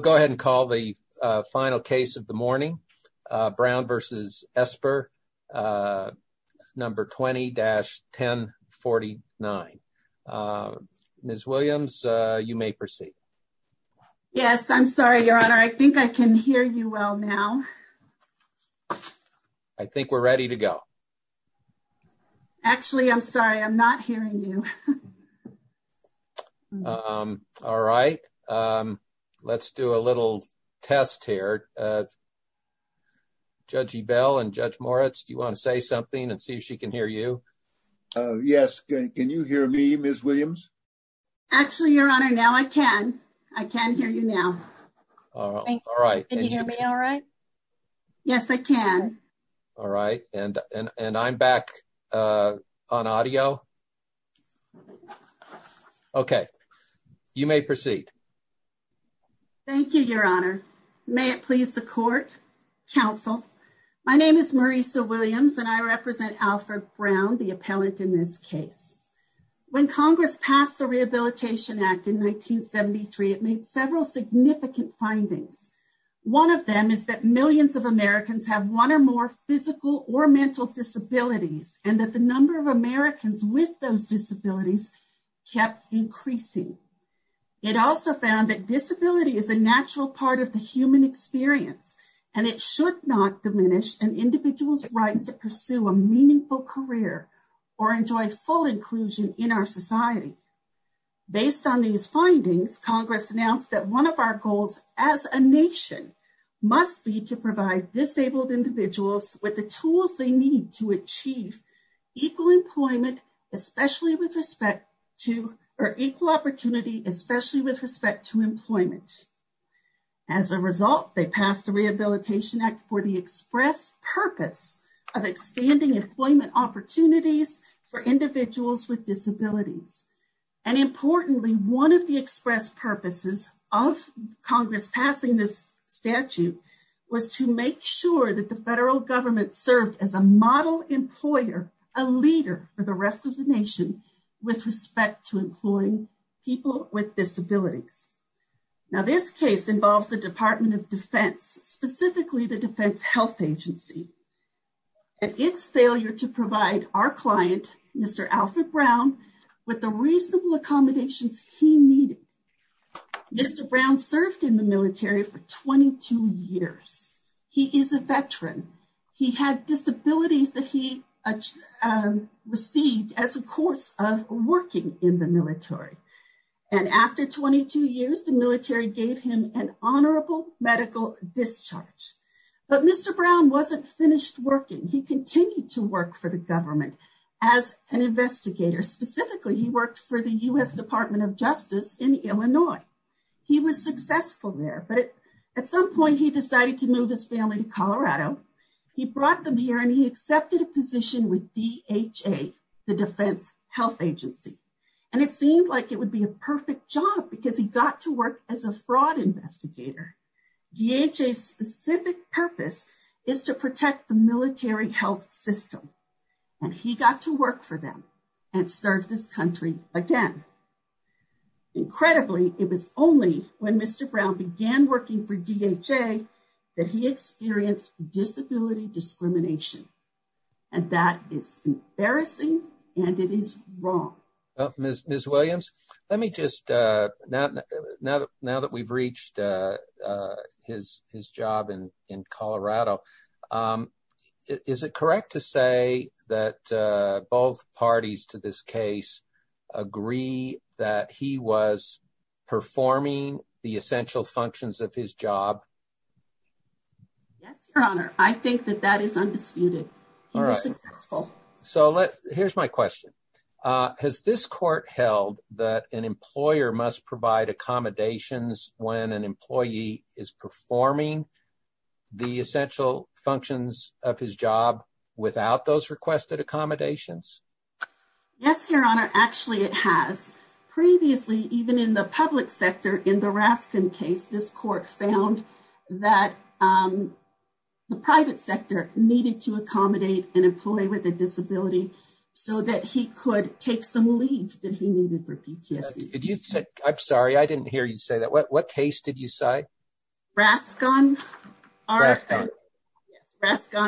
Go ahead and call the final case of the morning. Brown v. Esper, number 20-1049. Ms. Williams, you may proceed. Yes, I'm sorry, Your Honor. I think I can hear you well now. I think we're ready to go. Actually, I'm sorry, I'm not hearing you. All right. Let's do a little test here. Judge Ebell and Judge Moritz, do you want to say something and see if she can hear you? Yes. Can you hear me, Ms. Williams? Actually, Your Honor, now I can. I can hear you now. All right. Can you hear me all right? Yes, I can. All right. And I'm back on audio. Okay. You may proceed. Thank you, Your Honor. May it please the court, counsel. My name is Marisa Williams, and I represent Alfred Brown, the appellant in this case. When Congress passed the Rehabilitation Act in 1973, it made several significant findings. One of them is that millions of Americans have one or more physical or mental disabilities, and that the number of Americans with those disabilities kept increasing. It also found that disability is a natural part of the human experience, and it should not diminish an individual's right to pursue a meaningful career or enjoy full inclusion in our society. Based on these findings, Congress announced that one of our goals as a nation must be to provide disabled individuals with the tools they need to achieve equal employment, especially with respect to or equal opportunity, especially with respect to employment. As a result, they passed the Rehabilitation Act for the express purpose of expanding employment opportunities for individuals with disabilities. And importantly, one of the express purposes of Congress passing this statute was to make sure that the federal government served as a model employer, a leader for the rest of the nation with respect to employing people with disabilities. Now, this case involves the Department of Defense, specifically the Defense Health Agency, and its failure to provide our client, Mr. Alfred Brown, with the reasonable accommodations he needed. Mr. Brown served in military for 22 years. He is a veteran. He had disabilities that he received as a course of working in the military. And after 22 years, the military gave him an honorable medical discharge. But Mr. Brown wasn't finished working. He continued to work for the government as an investigator. Specifically, he worked for the U.S. Department of Justice in Illinois. He was successful there. But at some point, he decided to move his family to Colorado. He brought them here and he accepted a position with DHA, the Defense Health Agency. And it seemed like it would be a perfect job because he got to work as a fraud investigator. DHA's specific purpose is to protect the military health system. And he got to work for them and serve this country again. Incredibly, it was only when Mr. Brown began working for DHA that he experienced disability discrimination. And that is embarrassing and it is wrong. Ms. Williams, let me just, now that we've reached his job in Colorado, is it correct to say that both parties to this case agree that he was performing the essential functions of his job? Yes, Your Honor. I think that that is undisputed. He was successful. So here's my question. Has this court held that an employer must provide accommodations when an employee is performing the essential functions of his job without those requested accommodations? Yes, Your Honor. Actually, it has. Previously, even in the public sector, in the Raskin case, this court found that the private sector needed to accommodate an employee with a disability so that he could take some leave that he needed for PTSD. I'm sorry, I didn't hear you say that. What case did you say? Raskin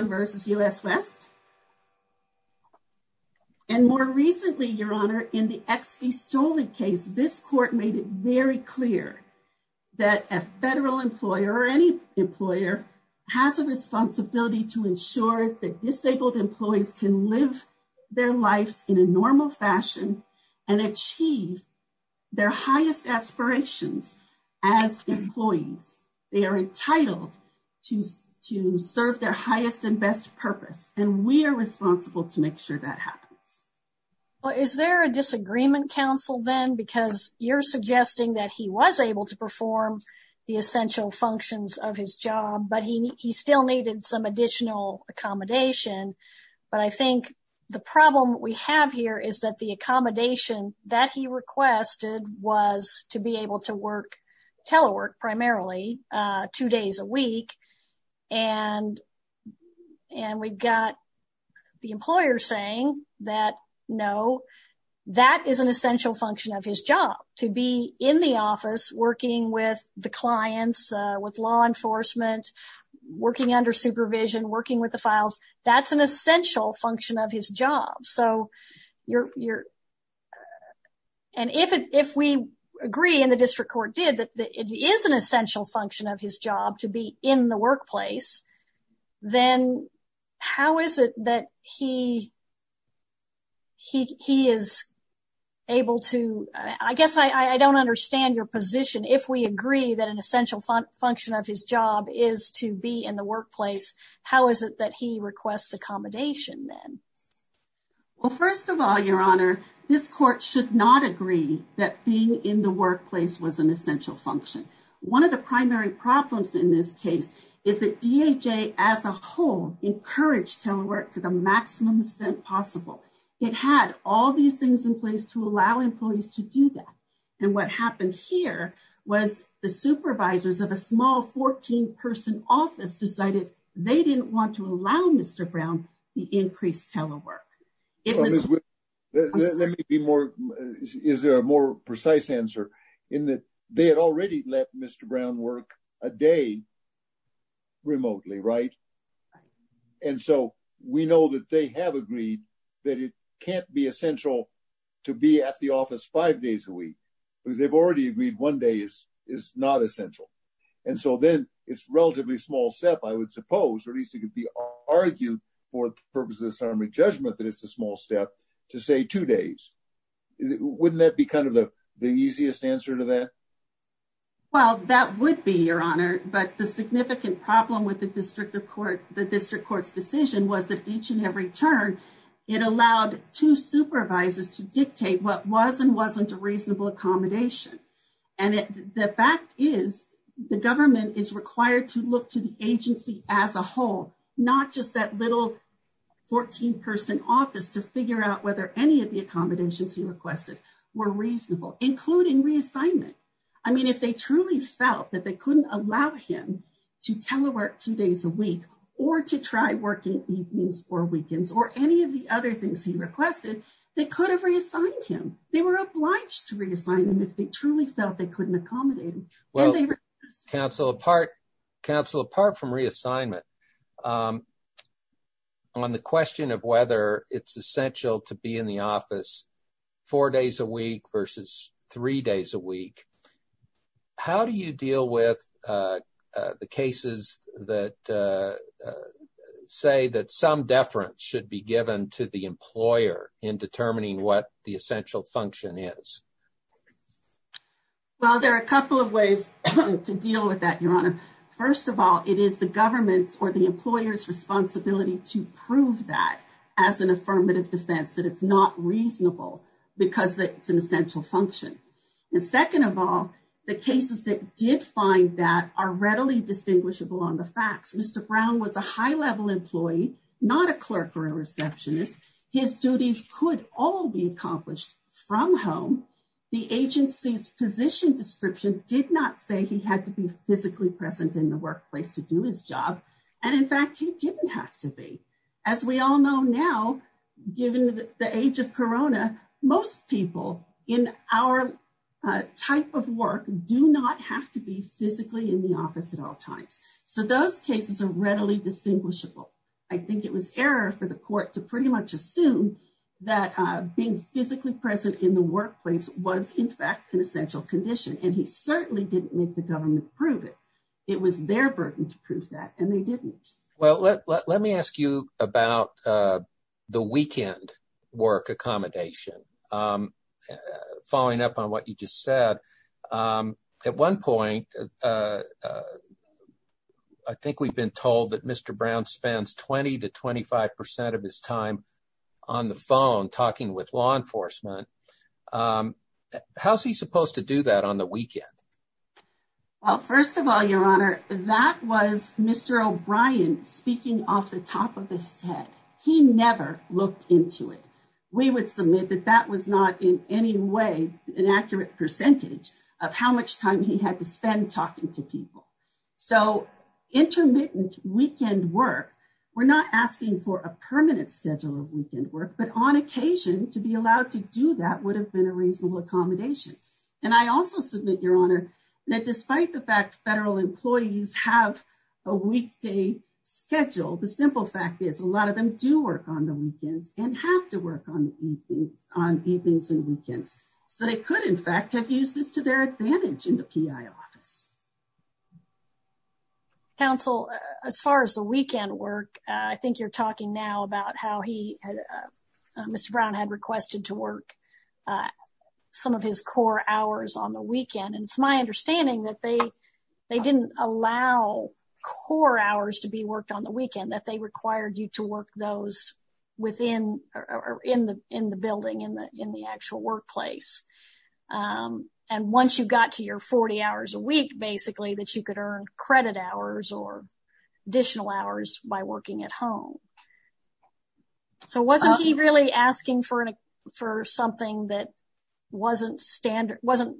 versus US West. And more recently, Your Honor, in the XB Stolen case, this court made it very clear that a federal employer or any employer has a responsibility to ensure that their highest aspirations as employees, they are entitled to serve their highest and best purpose, and we are responsible to make sure that happens. Well, is there a disagreement, counsel, then? Because you're suggesting that he was able to perform the essential functions of his job, but he still needed some additional accommodation. But I think the problem we have here is that the was to be able to work telework primarily two days a week, and we've got the employer saying that no, that is an essential function of his job, to be in the office working with the clients, with law enforcement, working under supervision, working with the files. That's an essential function of his job. And if we agree, and the district court did, that it is an essential function of his job to be in the workplace, then how is it that he is able to... I guess I don't understand your position. If we agree that an essential function of his job is to be in the workplace, then how is it that he is able to do that? Well, first of all, Your Honor, this court should not agree that being in the workplace was an essential function. One of the primary problems in this case is that DHA as a whole encouraged telework to the maximum extent possible. It had all these things in place to allow employees to do that. And what happened here was the supervisors of a small 14-person office decided they didn't want to allow Mr. Brown the increased telework. Let me be more... Is there a more precise answer in that they had already let Mr. Brown work a day remotely, right? And so we know that they have agreed that it can't be essential to be at the And so then it's a relatively small step, I would suppose, or at least it could be argued for the purpose of disarmament judgment that it's a small step to say two days. Wouldn't that be kind of the easiest answer to that? Well, that would be, Your Honor, but the significant problem with the district court's decision was that each and every turn, it allowed two supervisors to dictate what was and wasn't a government is required to look to the agency as a whole, not just that little 14-person office to figure out whether any of the accommodations he requested were reasonable, including reassignment. I mean, if they truly felt that they couldn't allow him to telework two days a week or to try working evenings or weekends or any of the other things he requested, they could have reassigned him. They were obliged to reassign him if they truly felt they couldn't accommodate him. Well, counsel, apart from reassignment, on the question of whether it's essential to be in the office four days a week versus three days a week, how do you deal with the cases that say that some deference should be given to the employer in determining what the essential function is? Well, there are a couple of ways to deal with that, Your Honor. First of all, it is the government's or the employer's responsibility to prove that as an affirmative defense, that it's not reasonable because it's an essential function. And second of all, the cases that did find that are readily distinguishable on the facts. Mr. Brown was a high-level employee, not a clerk or a receptionist. His duties could all be accomplished from home. The agency's position description did not say he had to be physically present in the workplace to do his job. And in fact, he didn't have to be. As we all know now, given the age of corona, most people in our type of work do not have to be physically in the office at all times. So those cases are readily distinguishable. I think it was error for the court to pretty much assume that being physically present in the workplace was, in fact, an essential condition, and he certainly didn't make the government prove it. It was their burden to prove that, and they didn't. Well, let me ask you about the weekend work accommodation. Following up on what you just said, at one point, I think we've been told that Mr. Brown spends 20 to 25 percent of his time on the phone talking with law enforcement. How's he supposed to do that on the weekend? Well, first of all, Your Honor, that was Mr. O'Brien speaking off the top of his head. He never looked into it. We would submit that that was not in any way an accurate percentage of how time he had to spend talking to people. So intermittent weekend work, we're not asking for a permanent schedule of weekend work, but on occasion, to be allowed to do that would have been a reasonable accommodation. I also submit, Your Honor, that despite the fact federal employees have a weekday schedule, the simple fact is a lot of them do work on the weekends and have to work on evenings and weekends. So they could, in fact, have used this to their advantage in the PI office. Counsel, as far as the weekend work, I think you're talking now about how Mr. Brown had requested to work some of his core hours on the weekend. It's my understanding that they didn't allow core hours to be worked on the weekend, that they required you to work those within or in the building, in the actual workplace. And once you got to your 40 hours a week, basically, that you could earn credit hours or additional hours by working at home. So wasn't he really asking for something that wasn't standard, wasn't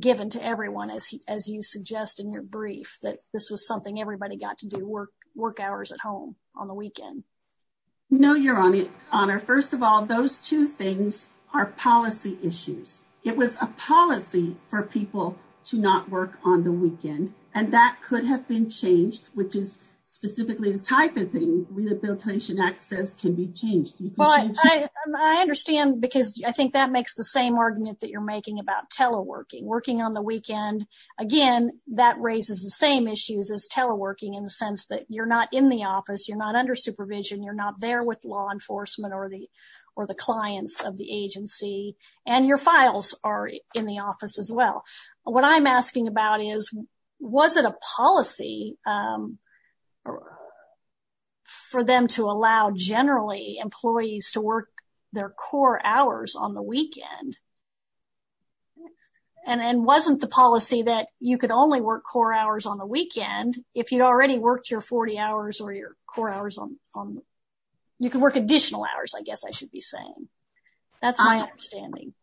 given to everyone, as you suggest in your brief, that this was something everybody got to do, work hours at home on the weekend? No, Your Honor. First of all, those two things are policy issues. It was a policy for people to not work on the weekend, and that could have been changed, which is specifically the type of thing the Rehabilitation Act says can be changed. I understand because I think that makes the same argument that you're making about teleworking. Working on the weekend, again, that raises the same issues as teleworking in the sense that you're not in the office, you're not under supervision, you're not there with law enforcement or the clients of the agency, and your files are in the office as well. What I'm asking about is, was it a policy for them to allow, generally, employees to work their core hours on the weekend? And wasn't the policy that you could only work core hours on the weekend if you already worked your 40 hours or your core hours on the weekend? You could work additional hours, I guess I should be saying. That's my understanding.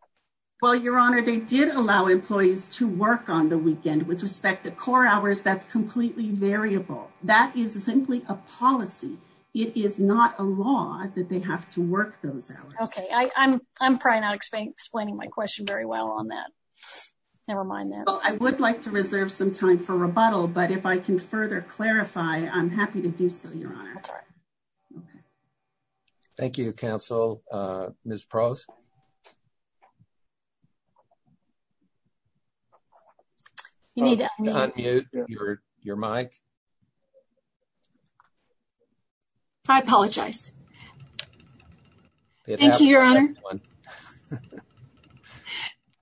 Well, Your Honor, they did allow employees to work on the weekend. With respect to core hours, that's completely variable. That is simply a policy. It is not a law that they have to work those hours. Okay, I'm probably not explaining my question very well on that. Never mind that. Well, I would like to reserve some time for rebuttal, but if I can further clarify, I'm happy to do so, Your Honor. That's all right. Thank you, counsel. Ms. Prose? You need to unmute. Unmute your mic. I apologize. Thank you, Your Honor.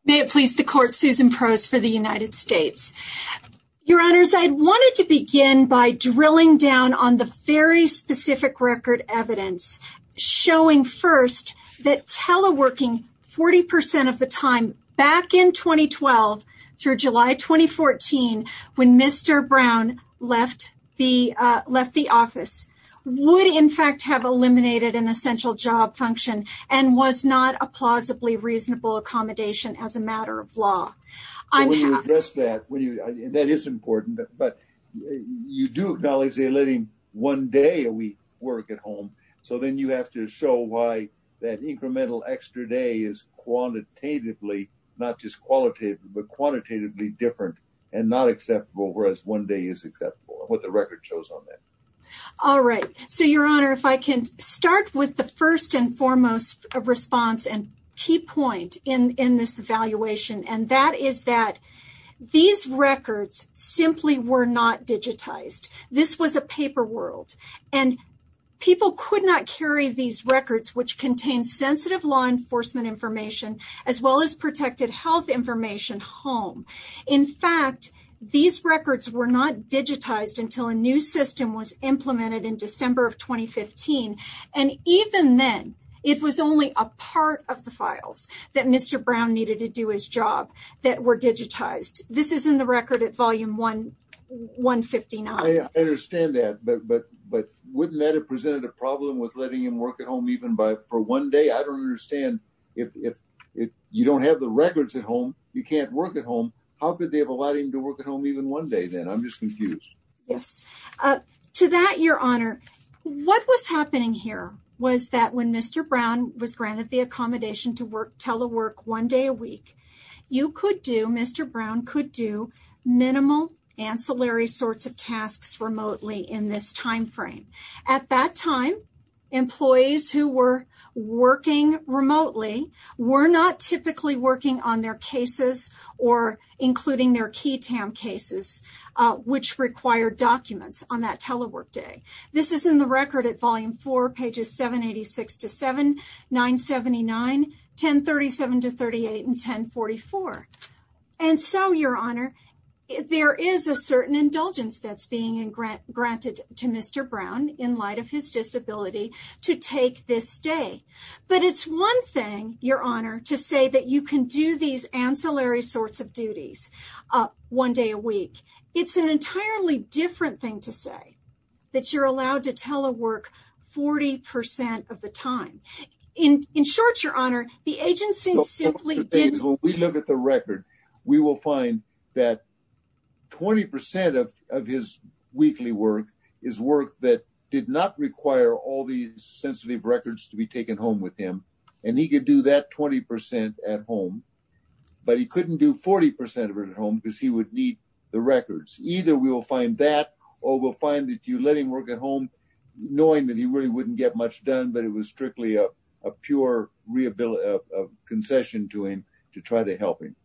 May it please the Court, Susan Prose for the United States. Your Honors, I wanted to begin by drilling down on the very specific record evidence showing first that teleworking 40% of the time back in 2012 through July 2014 when Mr. Brown left the office would, in fact, have eliminated an essential job function and was not a plausibly reasonable accommodation as a matter of law. When you address that, that is important, but you do acknowledge they're living one day a week work at home, so then you have to show why that incremental extra day is quantitatively, not just qualitative, but quantitatively different and not acceptable, whereas one day is acceptable and what the record shows on that. All right. So, Your Honor, if I can start with the first and foremost response and key point in this evaluation, and that is that these records simply were not digitized. This was a paper world, and people could not carry these records, which contain sensitive law enforcement information, as well as protected health information, home. In fact, these records were not digitized until a new system was implemented in December of 2015, and even then, it was only a part of the files that Mr. Brown needed to do his job that were digitized. This is in the record at volume 159. I understand that, but wouldn't that have presented a problem with letting him work at one day? I don't understand if you don't have the records at home, you can't work at home, how could they have allowed him to work at home even one day then? I'm just confused. Yes. To that, Your Honor, what was happening here was that when Mr. Brown was granted the accommodation to work telework one day a week, you could do, Mr. Brown could do, minimal ancillary sorts of tasks remotely in this time frame. At that time, employees who were working remotely were not typically working on their cases or including their QI-TAM cases, which required documents on that telework day. This is in the record at volume 4, pages 786-7, 979, 1037-38, and 1044. And so, Your Honor, there is a certain indulgence that's being granted to Mr. Brown in light of his disability to take this day. But it's one thing, Your Honor, to say that you can do these ancillary sorts of duties one day a week. It's an entirely different thing to say, that you're allowed to telework 40% of the time. In short, Your Honor, the agency simply didn't- When we look at the record, we will find that 20% of his weekly work is work that did not require all these sensitive records to be taken home with him. And he could do that 20% at home, but he couldn't do 40% of it at home because he would need the records. Either we will that or we'll find that you let him work at home knowing that he really wouldn't get much done, but it was strictly a pure concession to him to try to help him.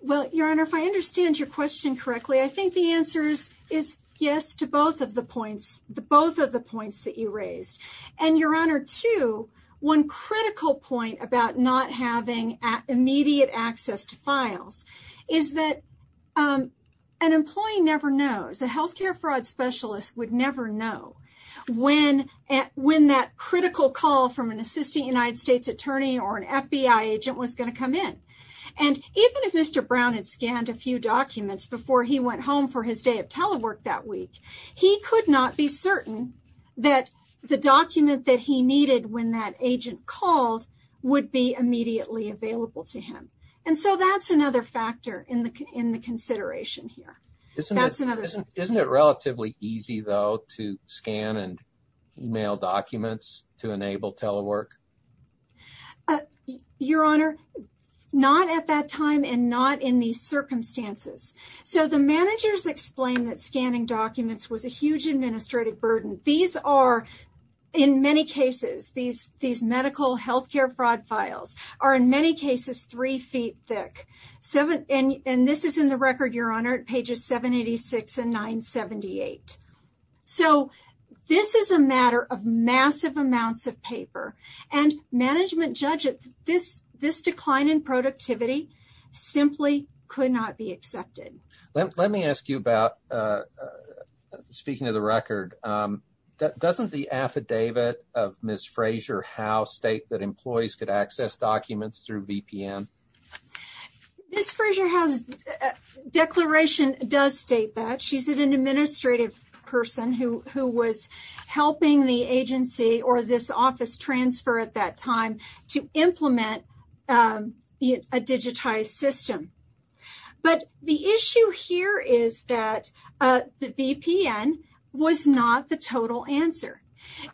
Well, Your Honor, if I understand your question correctly, I think the answer is yes to both of the points that you raised. And Your Honor, too, one critical point about not having immediate access to files is that an employee never knows. A healthcare fraud specialist would never know when that critical call from an assistant United States attorney or an FBI agent was going to come in. And even if Mr. Brown had scanned a few documents before he went home for his day of telework that week, he could not be certain that the document that he needed when that agent called would be immediately available to him. And so that's another factor in the consideration here. Isn't it relatively easy though to scan and email documents to enable telework? Your Honor, not at that time and not in these circumstances. So the managers explained that scanning documents was a huge administrative burden. These are, in many cases, these medical healthcare fraud files are in many cases three feet thick. And this is in the record, Your Honor, pages 786 and 978. So this is a matter of massive amounts of paper. And management judged that this decline in productivity simply could not be doesn't the affidavit of Ms. Frazier-Howe state that employees could access documents through VPN? Ms. Frazier-Howe's declaration does state that. She's an administrative person who was helping the agency or this office transfer at that time to implement a digitized system. But the issue here is that the VPN was not the total answer.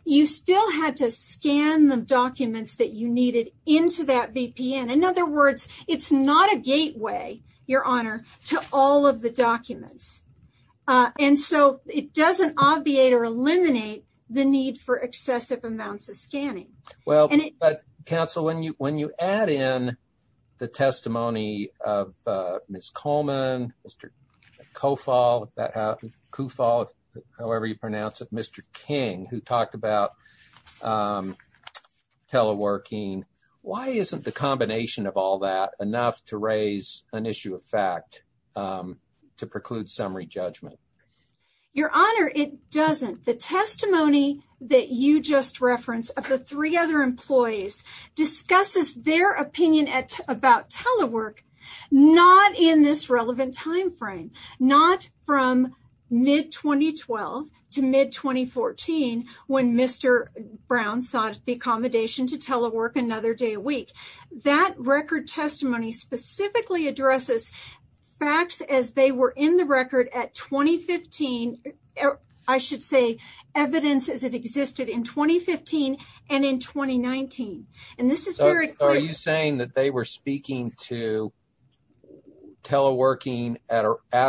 You still had to scan the documents that you needed into that VPN. In other words, it's not a gateway, Your Honor, to all of the documents. And so it doesn't obviate or eliminate the need for excessive amounts of scanning. Well, but counsel, when you add in the testimony of Ms. Coleman, Mr. Koufal, however you pronounce it, Mr. King, who talked about teleworking, why isn't the combination of all that enough to raise an issue of fact to preclude summary judgment? Your Honor, it doesn't. The testimony that you just referenced of the three other employees discusses their opinion about telework not in this relevant time frame, not from mid-2012 to mid-2014 when Mr. Brown sought the accommodation to telework another day a week. That record testimony specifically addresses facts as they were in the record at 2015. I should say evidence as it existed in 2015 and in 2019. Are you saying that they were speaking to teleworking at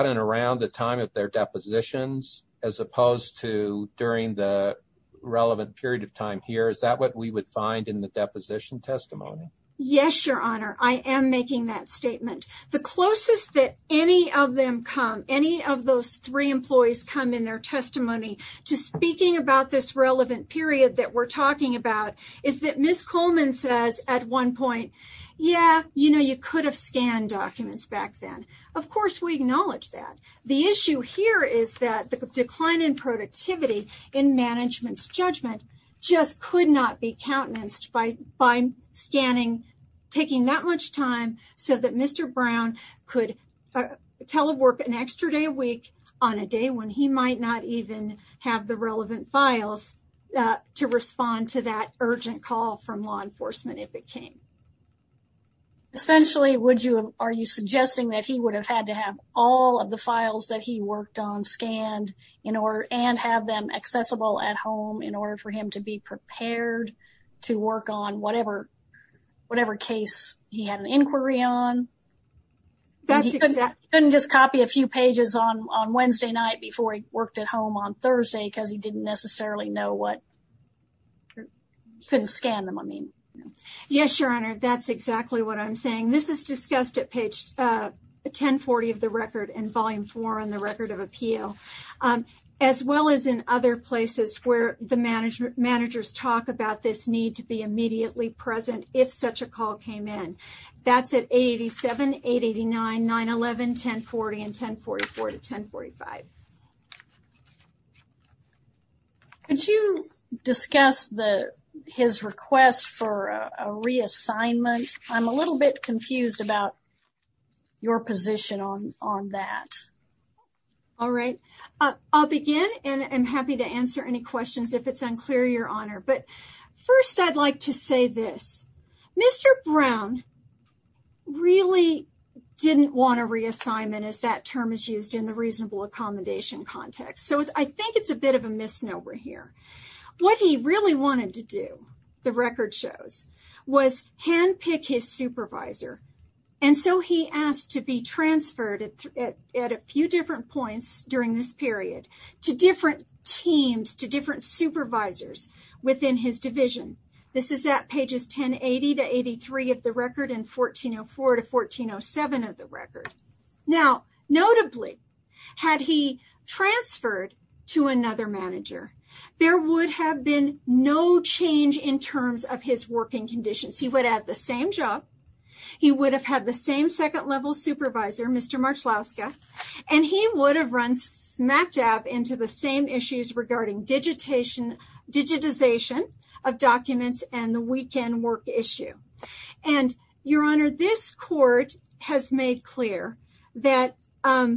and around the time of their depositions as opposed to during the relevant period of time here? Is that what we would find in the deposition testimony? Yes, Your Honor. I am making that statement. The closest that any of them come, any of those three employees come in their testimony to speaking about this relevant period that we're talking about is that Ms. Coleman says at one point, yeah, you know, you could have scanned documents back then. Of course, we acknowledge that. The issue here is that the decline in taking that much time so that Mr. Brown could telework an extra day a week on a day when he might not even have the relevant files to respond to that urgent call from law enforcement if it came. Essentially, are you suggesting that he would have had to have all of the files that he worked on scanned and have them accessible at home in order for him to be prepared to work on whatever case he had an inquiry on? He couldn't just copy a few pages on Wednesday night before he worked at home on Thursday because he didn't necessarily know what, couldn't scan them, I mean. Yes, Your Honor. That's exactly what I'm saying. This is discussed at page 1040 of the record in Volume 4 on the Record of Appeal, as well as in other places where managers talk about this need to be immediately present if such a call came in. That's at 887, 889, 911, 1040, and 1044 to 1045. Could you discuss his request for a reassignment? I'm a little bit confused about your position on that. All right, I'll begin and I'm happy to answer any questions if it's unclear, Your Honor. But first, I'd like to say this. Mr. Brown really didn't want a reassignment as that term is used in the reasonable accommodation context. So, I think it's a bit of a misnomer here. What he really wanted to do, the record shows, was handpick his supervisor and so he asked to be transferred at a few different points during this period to different teams, to different supervisors within his division. This is at pages 1080 to 83 of the record and 1404 to 1407 of the record. There would have been no change in terms of his working conditions. He would have the same job, he would have had the same second-level supervisor, Mr. Marchlowska, and he would have run smack dab into the same issues regarding digitization of documents and the weekend work issue. And, Your Honor, this Court has made clear that a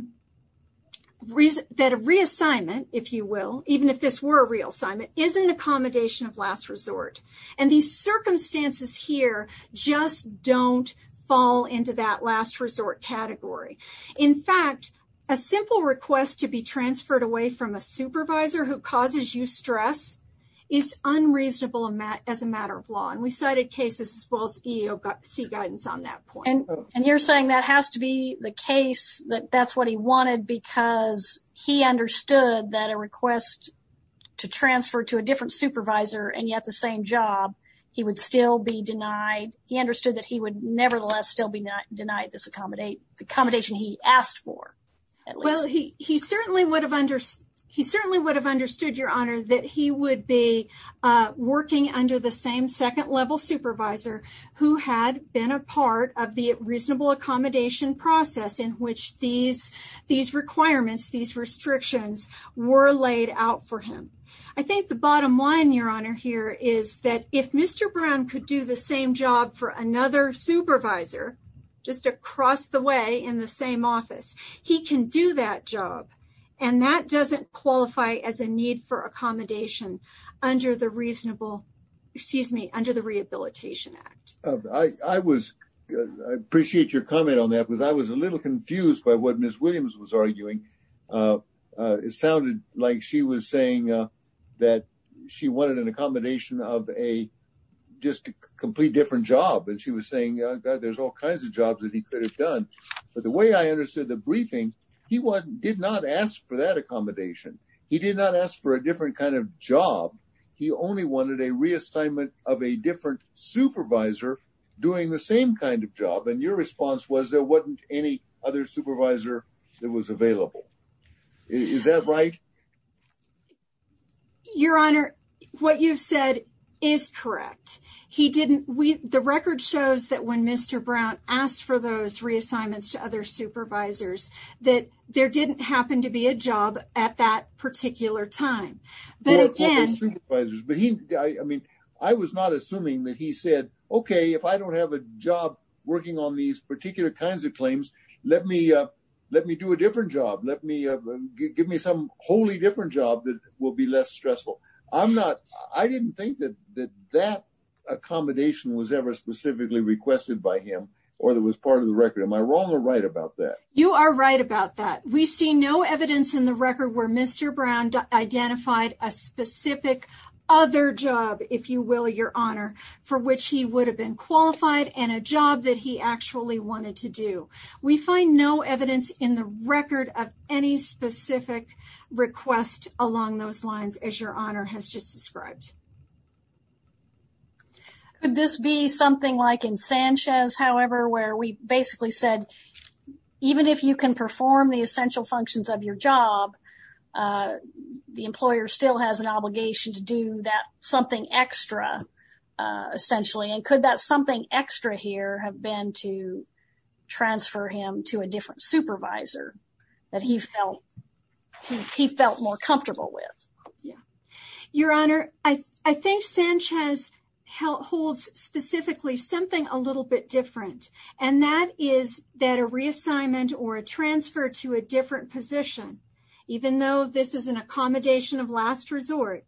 reassignment, if you will, even if this were a reassignment, is an accommodation of last resort. And these circumstances here just don't fall into that last resort category. In fact, a simple request to be transferred away from a supervisor who causes you stress is unreasonable as a matter of law. And we cited cases as well as EEOC guidance on that point. And you're saying that has to be the case, that that's what he wanted because he understood that a request to transfer to a different supervisor and yet the same job, he would still be denied, he understood that he would nevertheless still be denied this accommodation he asked for. Well, he certainly would have understood, Your Honor, that he would be working under the same second-level supervisor who had been a part of the reasonable accommodation process in which these requirements, these restrictions, were laid out for him. I think the bottom line, Your Honor, here is that if Mr. Brown could do the same job for another supervisor, just across the way in the same office, he can do that job. And that doesn't qualify as a need for accommodation under the reasonable, excuse me, under the Rehabilitation Act. I appreciate your comment on that because I was a little confused by what Ms. Williams was arguing. It sounded like she was saying that she wanted an accommodation of a just a complete different job. And she was saying there's all kinds of jobs that he could have done. But the way I understood the briefing, he did not ask for that accommodation. He did not ask for doing the same kind of job. And your response was there wasn't any other supervisor that was available. Is that right? Your Honor, what you've said is correct. He didn't, we, the record shows that when Mr. Brown asked for those reassignments to other supervisors that there didn't happen to okay, if I don't have a job working on these particular kinds of claims, let me do a different job. Let me give me some wholly different job that will be less stressful. I'm not, I didn't think that that accommodation was ever specifically requested by him or that was part of the record. Am I wrong or right about that? You are right about that. We see no evidence in the record where Mr. Brown identified a specific other job, if you will, Your Honor, for which he would have been qualified and a job that he actually wanted to do. We find no evidence in the record of any specific request along those lines as Your Honor has just described. Could this be something like in Sanchez, however, where we basically said even if you can perform the essential functions of your job, the employer still has an obligation to do that something extra essentially and could that something extra here have been to transfer him to a different supervisor that he felt he felt more comfortable with? Yeah, Your Honor, I think Sanchez holds specifically something a little bit different and that is that a reassignment or a transfer to a different position, even though this is an accommodation of last resort,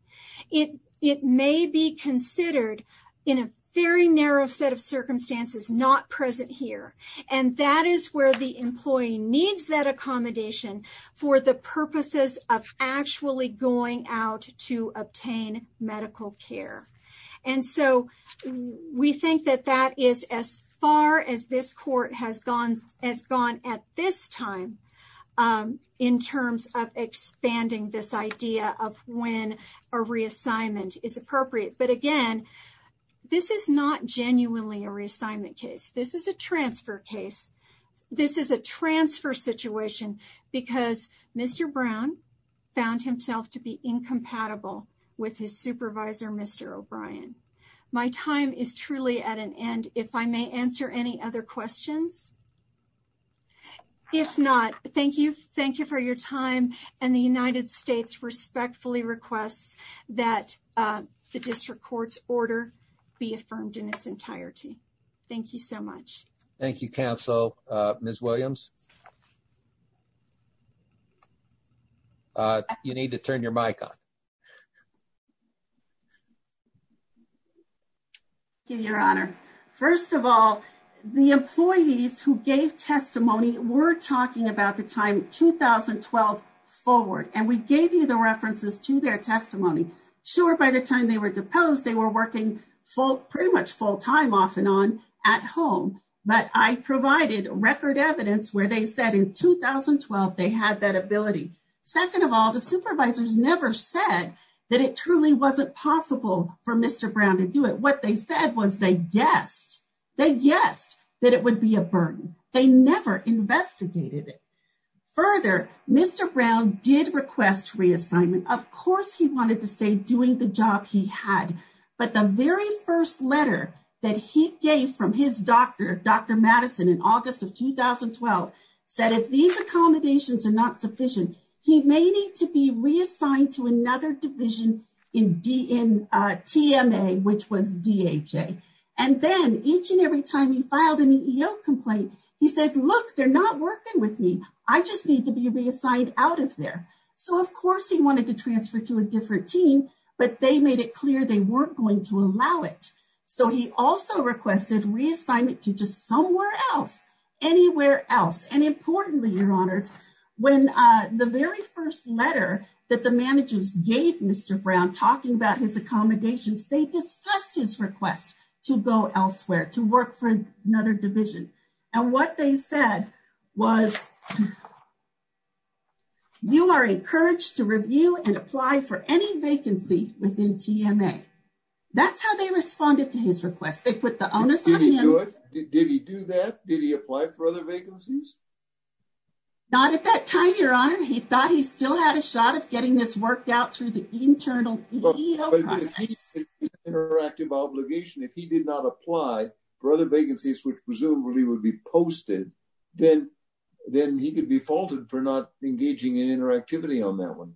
it may be considered in a very narrow set of circumstances not present here and that is where the employee needs that accommodation for the purposes of actually going out to obtain medical care. And so we think that that is as far as this court has gone at this time in terms of expanding this idea of when a reassignment is appropriate. But again, this is not genuinely a reassignment case. This is a transfer case. This is a transfer situation because Mr. Brown found himself to be incompatible with his supervisor, Mr. O'Brien. My time is truly at an end. If I may answer any other questions. If not, thank you. Thank you for your time. And the United States respectfully requests that the district court's order be affirmed in its entirety. Thank you so much. Thank you, Your Honor. First of all, the employees who gave testimony were talking about the time 2012 forward and we gave you the references to their testimony. Sure, by the time they were deposed, they were working full, pretty much full time off and on at home. But I provided record evidence where they said in 2012, they had that ability. Second of all, the supervisors never said that truly wasn't possible for Mr. Brown to do it. What they said was they guessed that it would be a burden. They never investigated it. Further, Mr. Brown did request reassignment. Of course, he wanted to stay doing the job he had. But the very first letter that he gave from his doctor, Dr. Madison in August of 2012, said if these accommodations are not sufficient, he may need to be reassigned to another division in TMA, which was DHA. And then each and every time he filed an EEO complaint, he said, look, they're not working with me. I just need to be reassigned out of there. So of course, he wanted to transfer to a different team, but they made it clear they weren't going to allow it. So he also requested reassignment to just somewhere else, anywhere else. And importantly, your honors, when the very first letter that the managers gave Mr. Brown talking about his accommodations, they discussed his request to go elsewhere, to work for another division. And what they said was, you are encouraged to review and apply for any vacancy within TMA. That's how they responded to his request. They put the onus on him. Did he do that? Did he apply for other vacancies? Not at that time, your honor. He thought he still had a shot of getting this worked out through the internal EEO process. Interactive obligation. If he did not apply for other vacancies, which presumably would be posted, then he could be faulted for not engaging in interactivity on that one.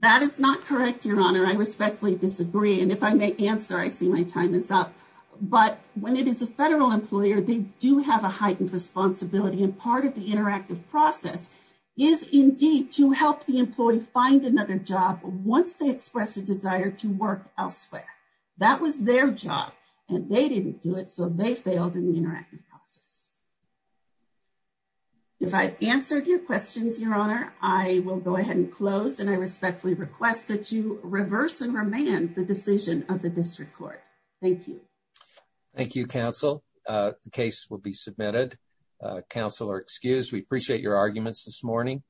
That is not correct, your honor. I respectfully disagree. And if I may answer, I see my time is up. But when it is a federal employer, they do have a heightened responsibility. And part of the interactive process is indeed to help the employee find another job once they express a desire to work elsewhere. That was their job and they didn't do it. So they failed in the interactive process. If I've answered your questions, your honor, I will go ahead and thank you. Thank you, counsel. The case will be submitted. Counsel are excused. We appreciate your arguments this morning.